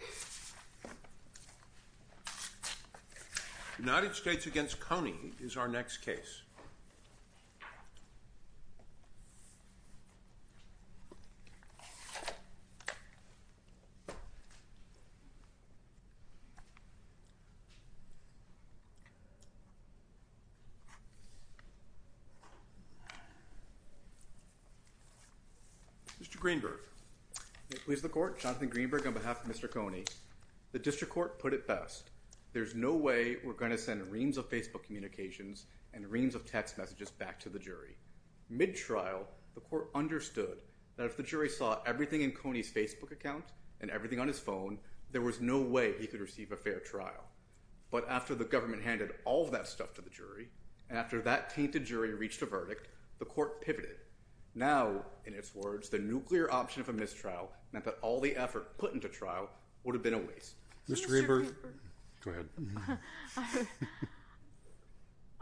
The United States v. Coney is our next case. Mr. Greenberg. May it please the Court, Jonathan Greenberg on behalf of Mr. Coney. The District Court put it best, there's no way we're going to send reams of Facebook communications and reams of text messages back to the jury. Mid-trial, the Court understood that if the jury saw everything in Coney's Facebook account and everything on his phone, there was no way he could receive a fair trial. But after the government handed all of that stuff to the jury, and after that tainted jury reached a verdict, the Court pivoted. Now, in its words, the nuclear option of a mistrial meant that all the effort put into trial would have been a waste. Mr. Greenberg. Go ahead.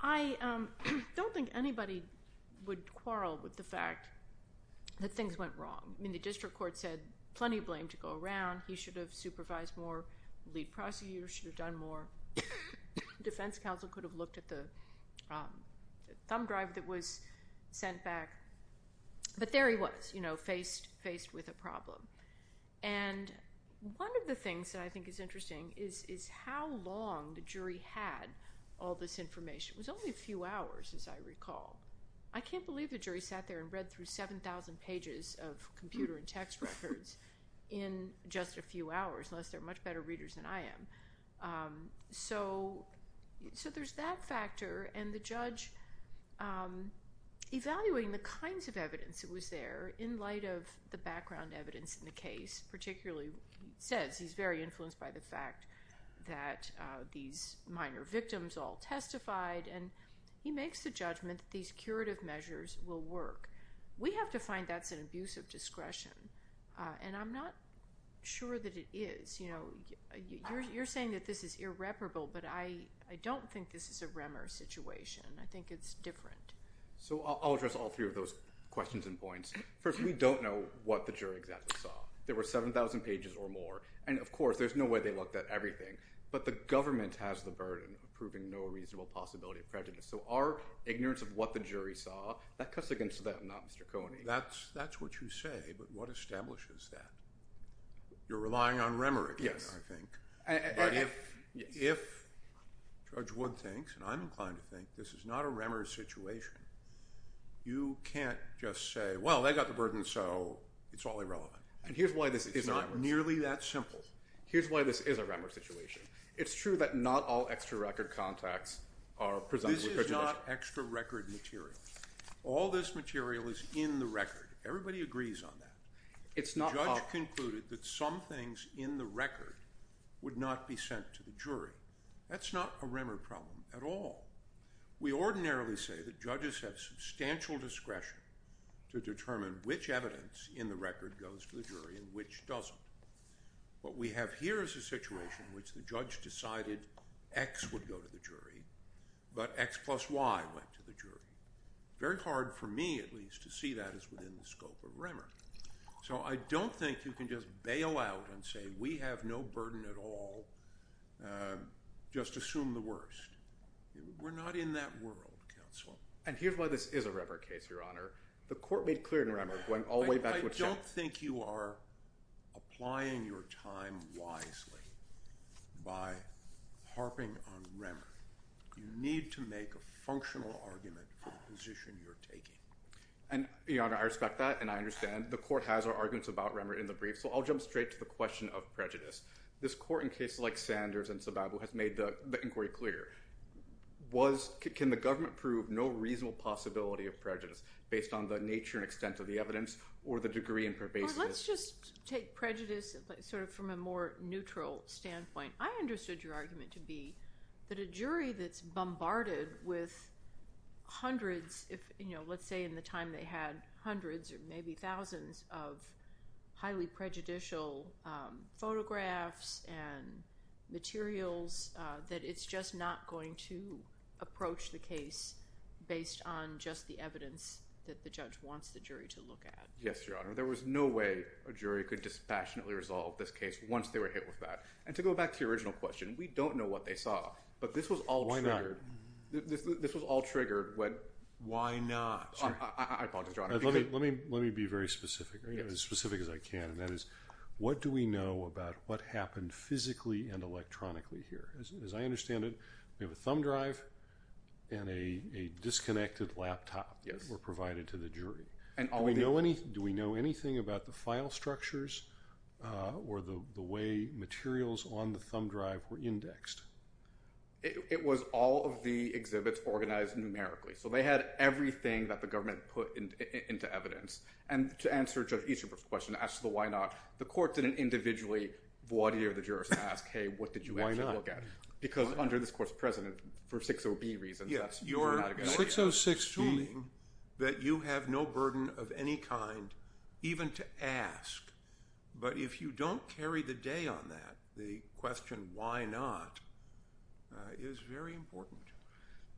I don't think anybody would quarrel with the fact that things went wrong. I mean, the District Court said plenty of blame to go around. He should have supervised more. Lead prosecutor should have done more. Defense counsel could have looked at the thumb drive that was sent back. But there he was, you know, faced with a problem. And one of the things that I think is interesting is how long the jury had all this information. It was only a few hours, as I recall. I can't believe the jury sat there and read through 7,000 pages of computer and text records in just a few hours, unless they're much better readers than I am. So there's that factor. And the judge, evaluating the kinds of evidence that was there, in light of the background evidence in the case, particularly, he says he's very influenced by the fact that these minor victims all testified. And he makes the judgment that these curative measures will work. We have to find that's an abuse of discretion. And I'm not sure that it is. You're saying that this is irreparable, but I don't think this is a REMER situation. I think it's different. So I'll address all three of those questions and points. First, we don't know what the jury exactly saw. There were 7,000 pages or more. And of course, there's no way they looked at everything. But the government has the burden of proving no reasonable possibility of prejudice. So our ignorance of what the jury saw, that cuts against them, not Mr. Coney. That's what you say, but what establishes that? You're relying on REMER again, I think. But if Judge Wood thinks, and I'm inclined to think, this is not a REMER situation, you can't just say, well, they got the burden, so it's all irrelevant. It's not nearly that simple. Here's why this is a REMER situation. It's true that not all extra record contacts are presented with prejudice. This is not extra record material. All this material is in the record. Everybody agrees on that. The judge concluded that some things in the record would not be sent to the jury. That's not a REMER problem at all. We ordinarily say that judges have substantial discretion to determine which evidence in the record goes to the jury and which doesn't. What we have here is a situation in which the judge decided X would go to the jury, but X plus Y went to the jury. Very hard for me, at least, to see that as within the scope of REMER. So I don't think you can just bail out and say we have no burden at all. Just assume the worst. We're not in that world, counsel. And here's why this is a REMER case, Your Honor. The court made clear in REMER it went all the way back to a check. I don't think you are applying your time wisely by harping on REMER. You need to make a functional argument for the position you're taking. Your Honor, I respect that, and I understand. The court has our arguments about REMER in the brief, so I'll jump straight to the question of prejudice. This court, in cases like Sanders and Sababu, has made the inquiry clear. Can the government prove no reasonable possibility of prejudice based on the nature and extent of the evidence or the degree and pervasiveness? Let's just take prejudice sort of from a more neutral standpoint. I understood your argument to be that a jury that's bombarded with hundreds, let's say in the time they had hundreds or maybe thousands, of highly prejudicial photographs and materials, that it's just not going to approach the case based on just the evidence that the judge wants the jury to look at. Yes, Your Honor. There was no way a jury could dispassionately resolve this case once they were hit with that. And to go back to your original question, we don't know what they saw, but this was all triggered. Why not? This was all triggered. Why not? I apologize, Your Honor. Let me be very specific, as specific as I can, and that is what do we know about what happened physically and electronically here? As I understand it, we have a thumb drive and a disconnected laptop that were provided to the jury. Do we know anything about the file structures or the way materials on the thumb drive were indexed? It was all of the exhibits organized numerically. So they had everything that the government put into evidence. And to answer Judge Easterbrook's question, as to the why not, the court didn't individually voir dire the jurors and ask, hey, what did you actually look at? Why not? Because under this Court's precedent, for 60B reasons, that's not a good idea. 606 assuming that you have no burden of any kind, even to ask. But if you don't carry the day on that, the question why not, is very important.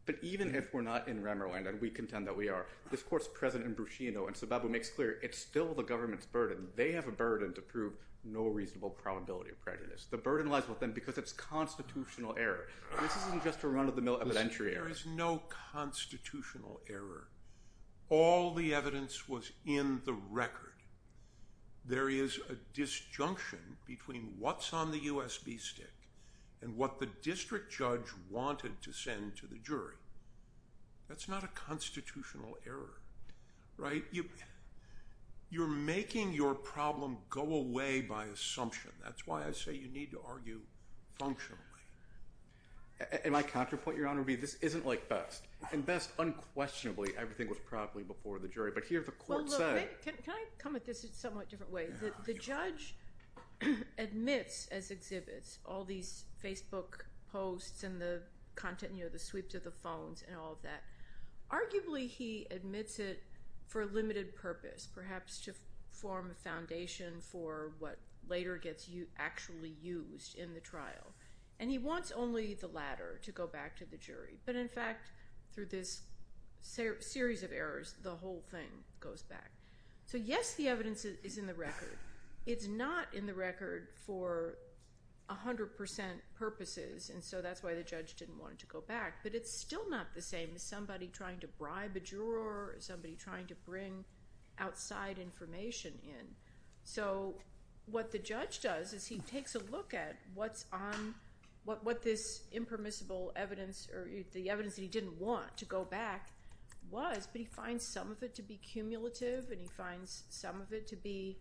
But even if we're not in Remmerland, and we contend that we are, this Court's precedent in Bruscino and Zababu makes clear it's still the government's burden. They have a burden to prove no reasonable probability of prejudice. The burden lies with them because it's constitutional error. This isn't just a run-of-the-mill evidentiary error. There is no constitutional error. All the evidence was in the record. There is a disjunction between what's on the USB stick and what the district judge wanted to send to the jury. That's not a constitutional error. You're making your problem go away by assumption. That's why I say you need to argue functionally. And my counterpoint, Your Honor, would be this isn't like Best. In Best, unquestionably, everything was properly before the jury. But here the Court said— Well, look, can I come at this in a somewhat different way? The judge admits as exhibits all these Facebook posts and the content, you know, the sweeps of the phones and all of that. Arguably, he admits it for a limited purpose, perhaps to form a foundation for what later gets actually used in the trial. And he wants only the latter to go back to the jury. But, in fact, through this series of errors, the whole thing goes back. So, yes, the evidence is in the record. It's not in the record for 100% purposes, and so that's why the judge didn't want it to go back. But it's still not the same as somebody trying to bribe a juror or somebody trying to bring outside information in. So what the judge does is he takes a look at what's on— what this impermissible evidence or the evidence that he didn't want to go back was, but he finds some of it to be cumulative and he finds some of it to be,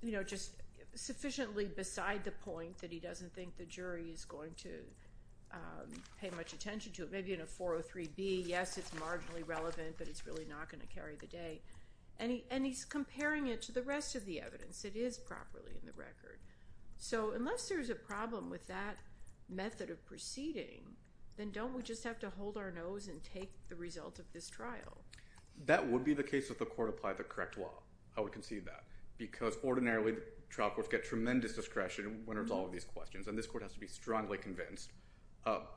you know, just sufficiently beside the point that he doesn't think the jury is going to pay much attention to it. Maybe in a 403B, yes, it's marginally relevant, but it's really not going to carry the day. And he's comparing it to the rest of the evidence. It is properly in the record. So unless there's a problem with that method of proceeding, then don't we just have to hold our nose and take the result of this trial? That would be the case if the court applied the correct law. I would concede that, because ordinarily trial courts get tremendous discretion when it's all of these questions, and this court has to be strongly convinced.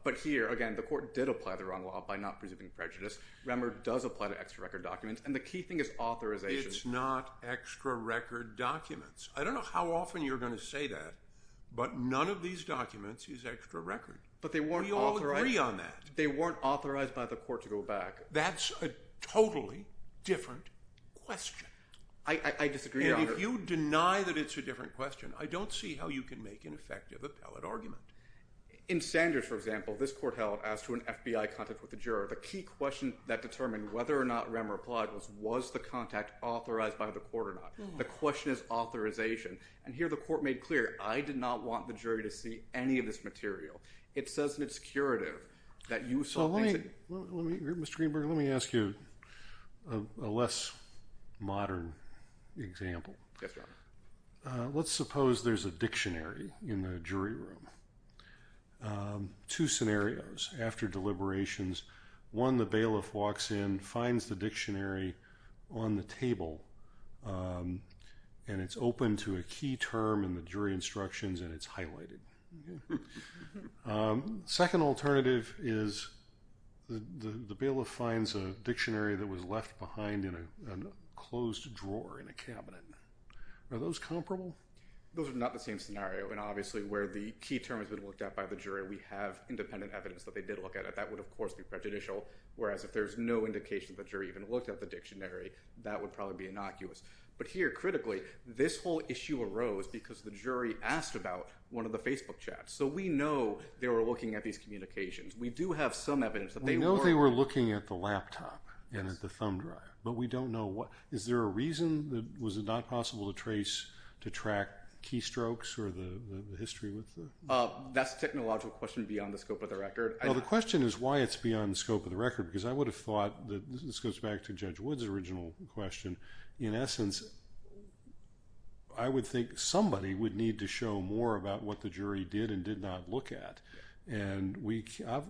But here, again, the court did apply the wrong law by not presuming prejudice. Remmer does apply to extra-record documents, and the key thing is authorization. It's not extra-record documents. I don't know how often you're going to say that, but none of these documents is extra-record. But they weren't authorized. We all agree on that. They weren't authorized by the court to go back. That's a totally different question. I disagree, Your Honor. And if you deny that it's a different question, I don't see how you can make an effective appellate argument. In Sanders, for example, this court held, as to an FBI contact with the juror, the key question that determined whether or not Remmer applied was, was the contact authorized by the court or not? The question is authorization. And here the court made clear, I did not want the jury to see any of this material. It says in its curative that you saw things that… Mr. Greenberg, let me ask you a less modern example. Yes, Your Honor. Let's suppose there's a dictionary in the jury room. Two scenarios after deliberations. One, the bailiff walks in, finds the dictionary on the table, and it's open to a key term in the jury instructions, and it's highlighted. Second alternative is the bailiff finds a dictionary that was left behind in a closed drawer in a cabinet. Are those comparable? Those are not the same scenario. And obviously where the key term has been looked at by the jury, we have independent evidence that they did look at it. That would, of course, be prejudicial. Whereas if there's no indication the jury even looked at the dictionary, that would probably be innocuous. But here, critically, this whole issue arose because the jury asked about one of the Facebook chats. So we know they were looking at these communications. We do have some evidence that they were. We know they were looking at the laptop and at the thumb drive, but we don't know what… Is there a reason? Was it not possible to trace, to track keystrokes or the history? That's a technological question beyond the scope of the record. Well, the question is why it's beyond the scope of the record, because I would have thought, this goes back to Judge Wood's original question, in essence, I would think somebody would need to show more about what the jury did and did not look at. And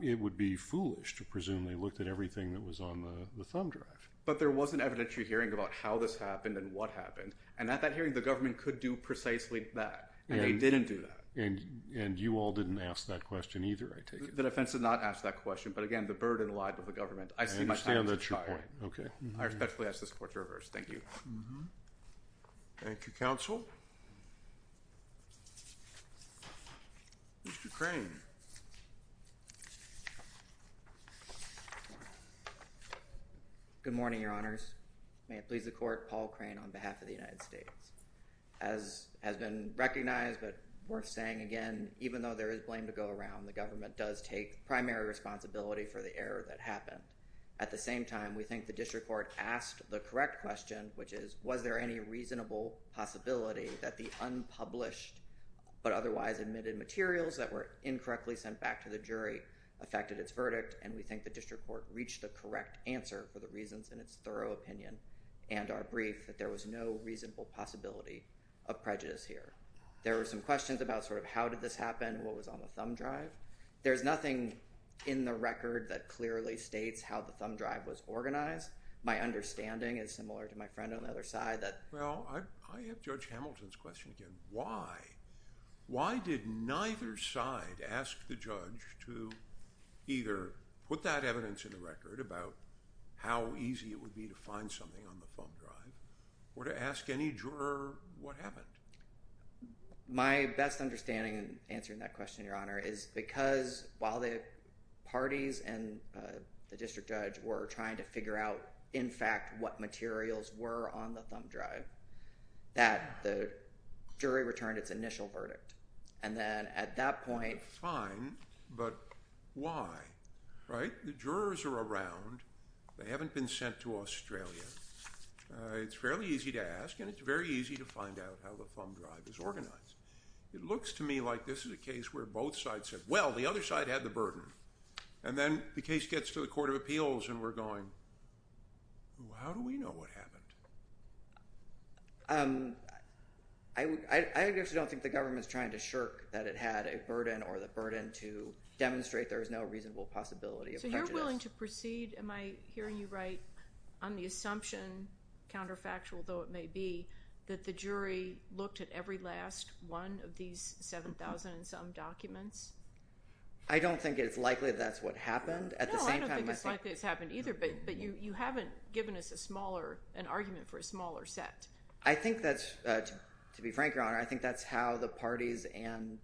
it would be foolish to presume they looked at everything that was on the thumb drive. But there was an evidentiary hearing about how this happened and what happened. And at that hearing, the government could do precisely that, and they didn't do that. And you all didn't ask that question either, I take it? The defense did not ask that question. But, again, the burden lied with the government. I see my time's expired. I understand that's your point. Okay. I respectfully ask this court to reverse. Thank you. Thank you, counsel. Mr. Crane. Good morning, Your Honors. May it please the court, Paul Crane on behalf of the United States. As has been recognized but worth saying again, even though there is blame to go around, the government does take primary responsibility for the error that happened. At the same time, we think the district court asked the correct question, which is, was there any reasonable possibility that the unpublished but correctly sent back to the jury affected its verdict? And we think the district court reached the correct answer for the reasons in its thorough opinion and our brief, that there was no reasonable possibility of prejudice here. There were some questions about sort of how did this happen, what was on the thumb drive. There's nothing in the record that clearly states how the thumb drive was organized. My understanding is similar to my friend on the other side. Well, I have Judge Hamilton's question again. Why? Why did neither side ask the judge to either put that evidence in the record about how easy it would be to find something on the thumb drive, or to ask any juror what happened? My best understanding in answering that question, Your Honor, is because while the parties and the district judge were trying to figure out, in fact, what materials were on the thumb drive, that the jury returned its initial verdict. And then at that point… Fine, but why? Right? The jurors are around. They haven't been sent to Australia. It's fairly easy to ask, and it's very easy to find out how the thumb drive is organized. It looks to me like this is a case where both sides said, well, the other side had the burden. And then the case gets to the Court of Appeals and we're going, how do we know what happened? I actually don't think the government is trying to shirk that it had a burden or the burden to demonstrate there is no reasonable possibility of prejudice. So you're willing to proceed, am I hearing you right, on the assumption, counterfactual though it may be, that the jury looked at every last one of these 7,000 and some documents? I don't think it's likely that's what happened. No, I don't think it's likely it's happened either, but you haven't given us an argument for a smaller set. I think that's, to be frank, Your Honor, I think that's how the parties and,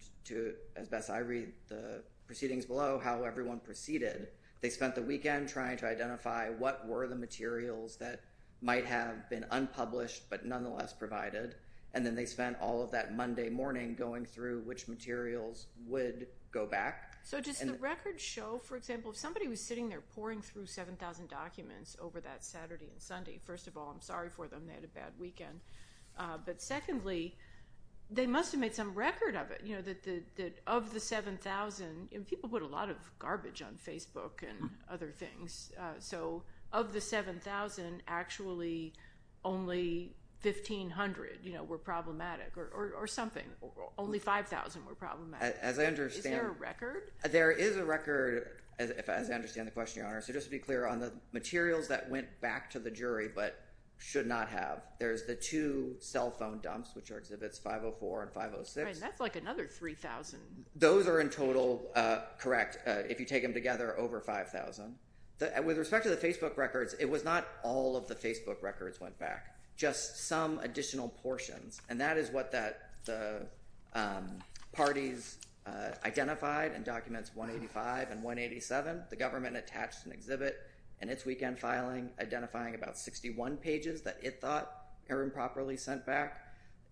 as best I read the proceedings below, how everyone proceeded. They spent the weekend trying to identify what were the materials that might have been unpublished but nonetheless provided, and then they spent all of that Monday morning going through which materials would go back. So does the record show, for example, if somebody was sitting there pouring through 7,000 documents over that Saturday and Sunday, first of all, I'm sorry for them, they had a bad weekend. But secondly, they must have made some record of it, that of the 7,000, people put a lot of garbage on Facebook and other things. So of the 7,000, actually only 1,500 were problematic or something. Only 5,000 were problematic. Is there a record? As I understand the question, Your Honor, so just to be clear on the materials that went back to the jury but should not have. There's the two cell phone dumps, which are Exhibits 504 and 506. That's like another 3,000. Those are in total, correct, if you take them together, over 5,000. With respect to the Facebook records, it was not all of the Facebook records went back, just some additional portions. And that is what the parties identified in Documents 185 and 187. The government attached an exhibit in its weekend filing, identifying about 61 pages that it thought are improperly sent back.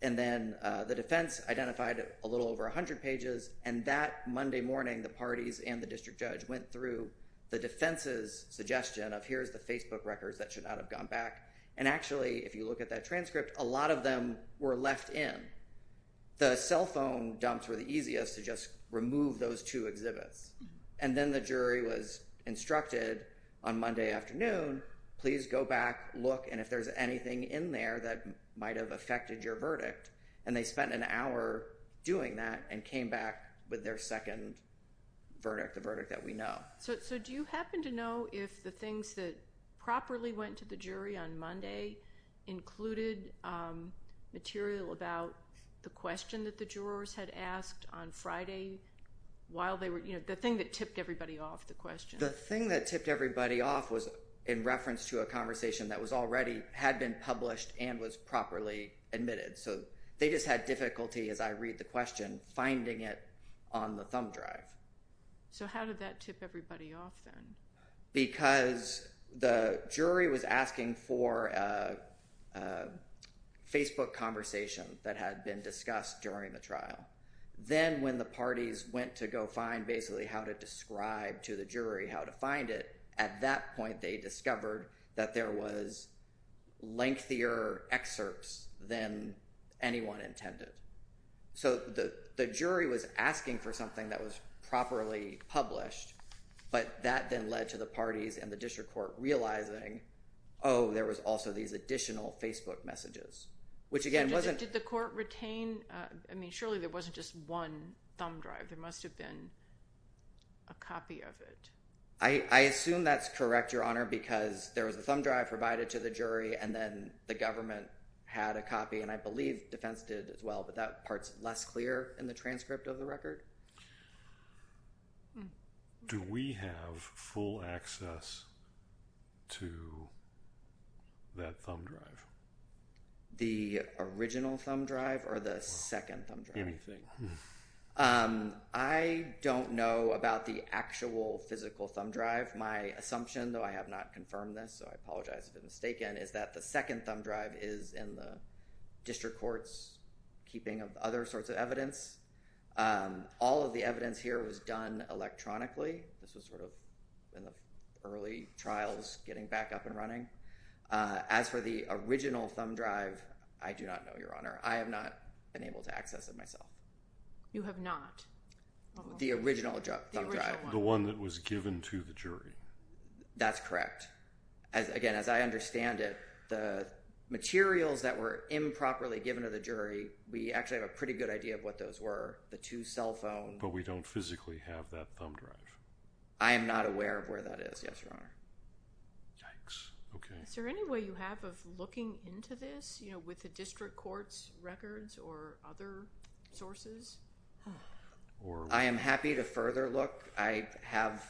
And then the defense identified a little over 100 pages, and that Monday morning the parties and the district judge went through the defense's suggestion of here's the Facebook records that should not have gone back. And actually, if you look at that transcript, a lot of them were left in. The cell phone dumps were the easiest to just remove those two exhibits. And then the jury was instructed on Monday afternoon, please go back, look, and if there's anything in there that might have affected your verdict. And they spent an hour doing that and came back with their second verdict, the verdict that we know. So do you happen to know if the things that properly went to the jury on Monday included material about the question that the jurors had asked on Friday while they were, you know, the thing that tipped everybody off the question? The thing that tipped everybody off was in reference to a conversation that was already had been published and was properly admitted. So they just had difficulty, as I read the question, finding it on the thumb drive. So how did that tip everybody off then? Because the jury was asking for a Facebook conversation that had been discussed during the trial. Then when the parties went to go find basically how to describe to the jury how to find it, at that point they discovered that there was lengthier excerpts than anyone intended. So the jury was asking for something that was properly published, but that then led to the parties and the district court realizing, oh, there was also these additional Facebook messages, which again wasn't... Did the court retain? I mean, surely there wasn't just one thumb drive. There must have been a copy of it. I assume that's correct, Your Honor, because there was a thumb drive provided to the jury and then the government had a copy, and I believe defense did as well, but that part's less clear in the transcript of the record. Do we have full access to that thumb drive? The original thumb drive or the second thumb drive? Anything. I don't know about the actual physical thumb drive. My assumption, though I have not confirmed this, so I apologize if it's mistaken, is that the second thumb drive is in the district court's keeping of other sorts of evidence. All of the evidence here was done electronically. This was sort of in the early trials getting back up and running. As for the original thumb drive, I do not know, Your Honor. I have not been able to access it myself. You have not? The original thumb drive. The one that was given to the jury. That's correct. Again, as I understand it, the materials that were improperly given to the jury, we actually have a pretty good idea of what those were, the two cell phones. But we don't physically have that thumb drive. I am not aware of where that is, yes, Your Honor. Yikes. Okay. Is there any way you have of looking into this, you know, with the district court's records or other sources? I am happy to further look. I have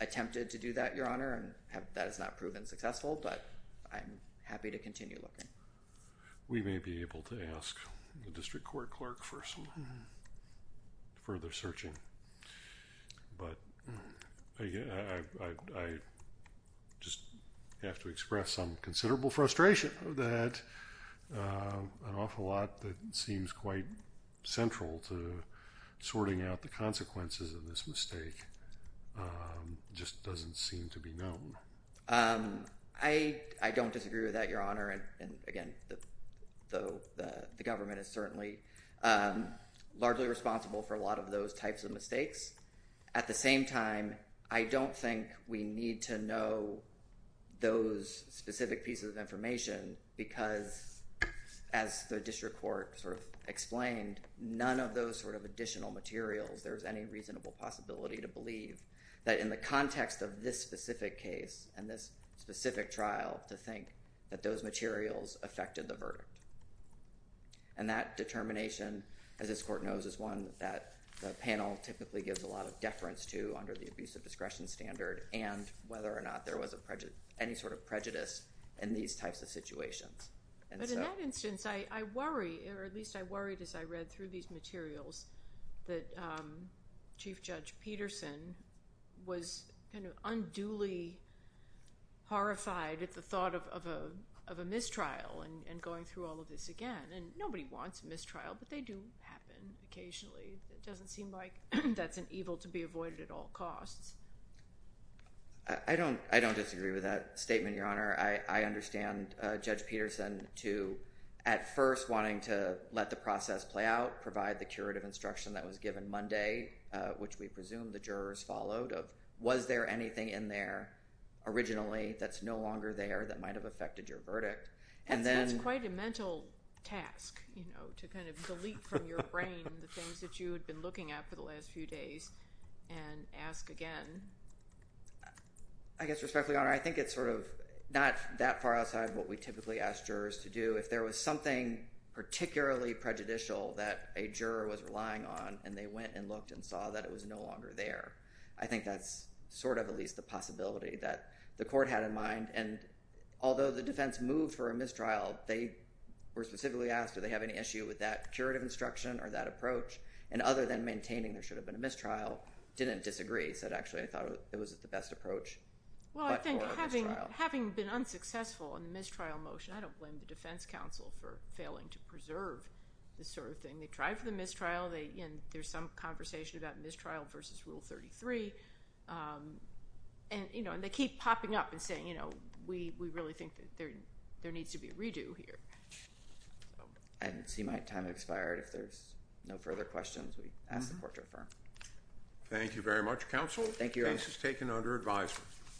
attempted to do that, Your Honor, and that has not proven successful, but I am happy to continue looking. We may be able to ask the district court clerk for some further searching. But I just have to express some considerable frustration that an awful lot that seems quite central to sorting out the consequences of this mistake just doesn't seem to be known. I don't disagree with that, Your Honor. And again, the government is certainly largely responsible for a lot of those types of mistakes. At the same time, I don't think we need to know those specific pieces of information because, as the district court sort of explained, none of those sort of additional materials there is any reasonable possibility to believe that in the context of this specific case and this specific trial to think that those materials affected the verdict. And that determination, as this court knows, is one that the panel typically gives a lot of deference to under the abuse of discretion standard and whether or not there was any sort of But in that instance, I worry, or at least I worried as I read through these materials, that Chief Judge Peterson was unduly horrified at the thought of a mistrial and going through all of this again. And nobody wants a mistrial, but they do happen occasionally. It doesn't seem like that's an evil to be avoided at all costs. I don't disagree with that statement, Your Honor. I understand Judge Peterson to, at first, wanting to let the process play out, provide the curative instruction that was given Monday, which we presume the jurors followed of, was there anything in there originally that's no longer there that might have affected your verdict? And then... That's quite a mental task, you know, to kind of delete from your brain the things that you had been looking at for the last few days and ask again. I guess respectfully, Your Honor, I think it's sort of not that far outside what we typically ask jurors to do. If there was something particularly prejudicial that a juror was relying on and they went and looked and saw that it was no longer there, I think that's sort of at least the possibility that the court had in mind. And although the defense moved for a mistrial, they were specifically asked if they have any issue with that curative instruction or that approach, and other than maintaining there should have been a mistrial, didn't disagree. They said, actually, I thought it was the best approach. Well, I think having been unsuccessful in the mistrial motion, I don't blame the defense counsel for failing to preserve this sort of thing. They tried for the mistrial, and there's some conversation about mistrial versus Rule 33, and they keep popping up and saying, you know, we really think that there needs to be a redo here. I see my time has expired. If there's no further questions, we ask the court to affirm. Thank you very much, counsel. Thank you. This is taken under advisement.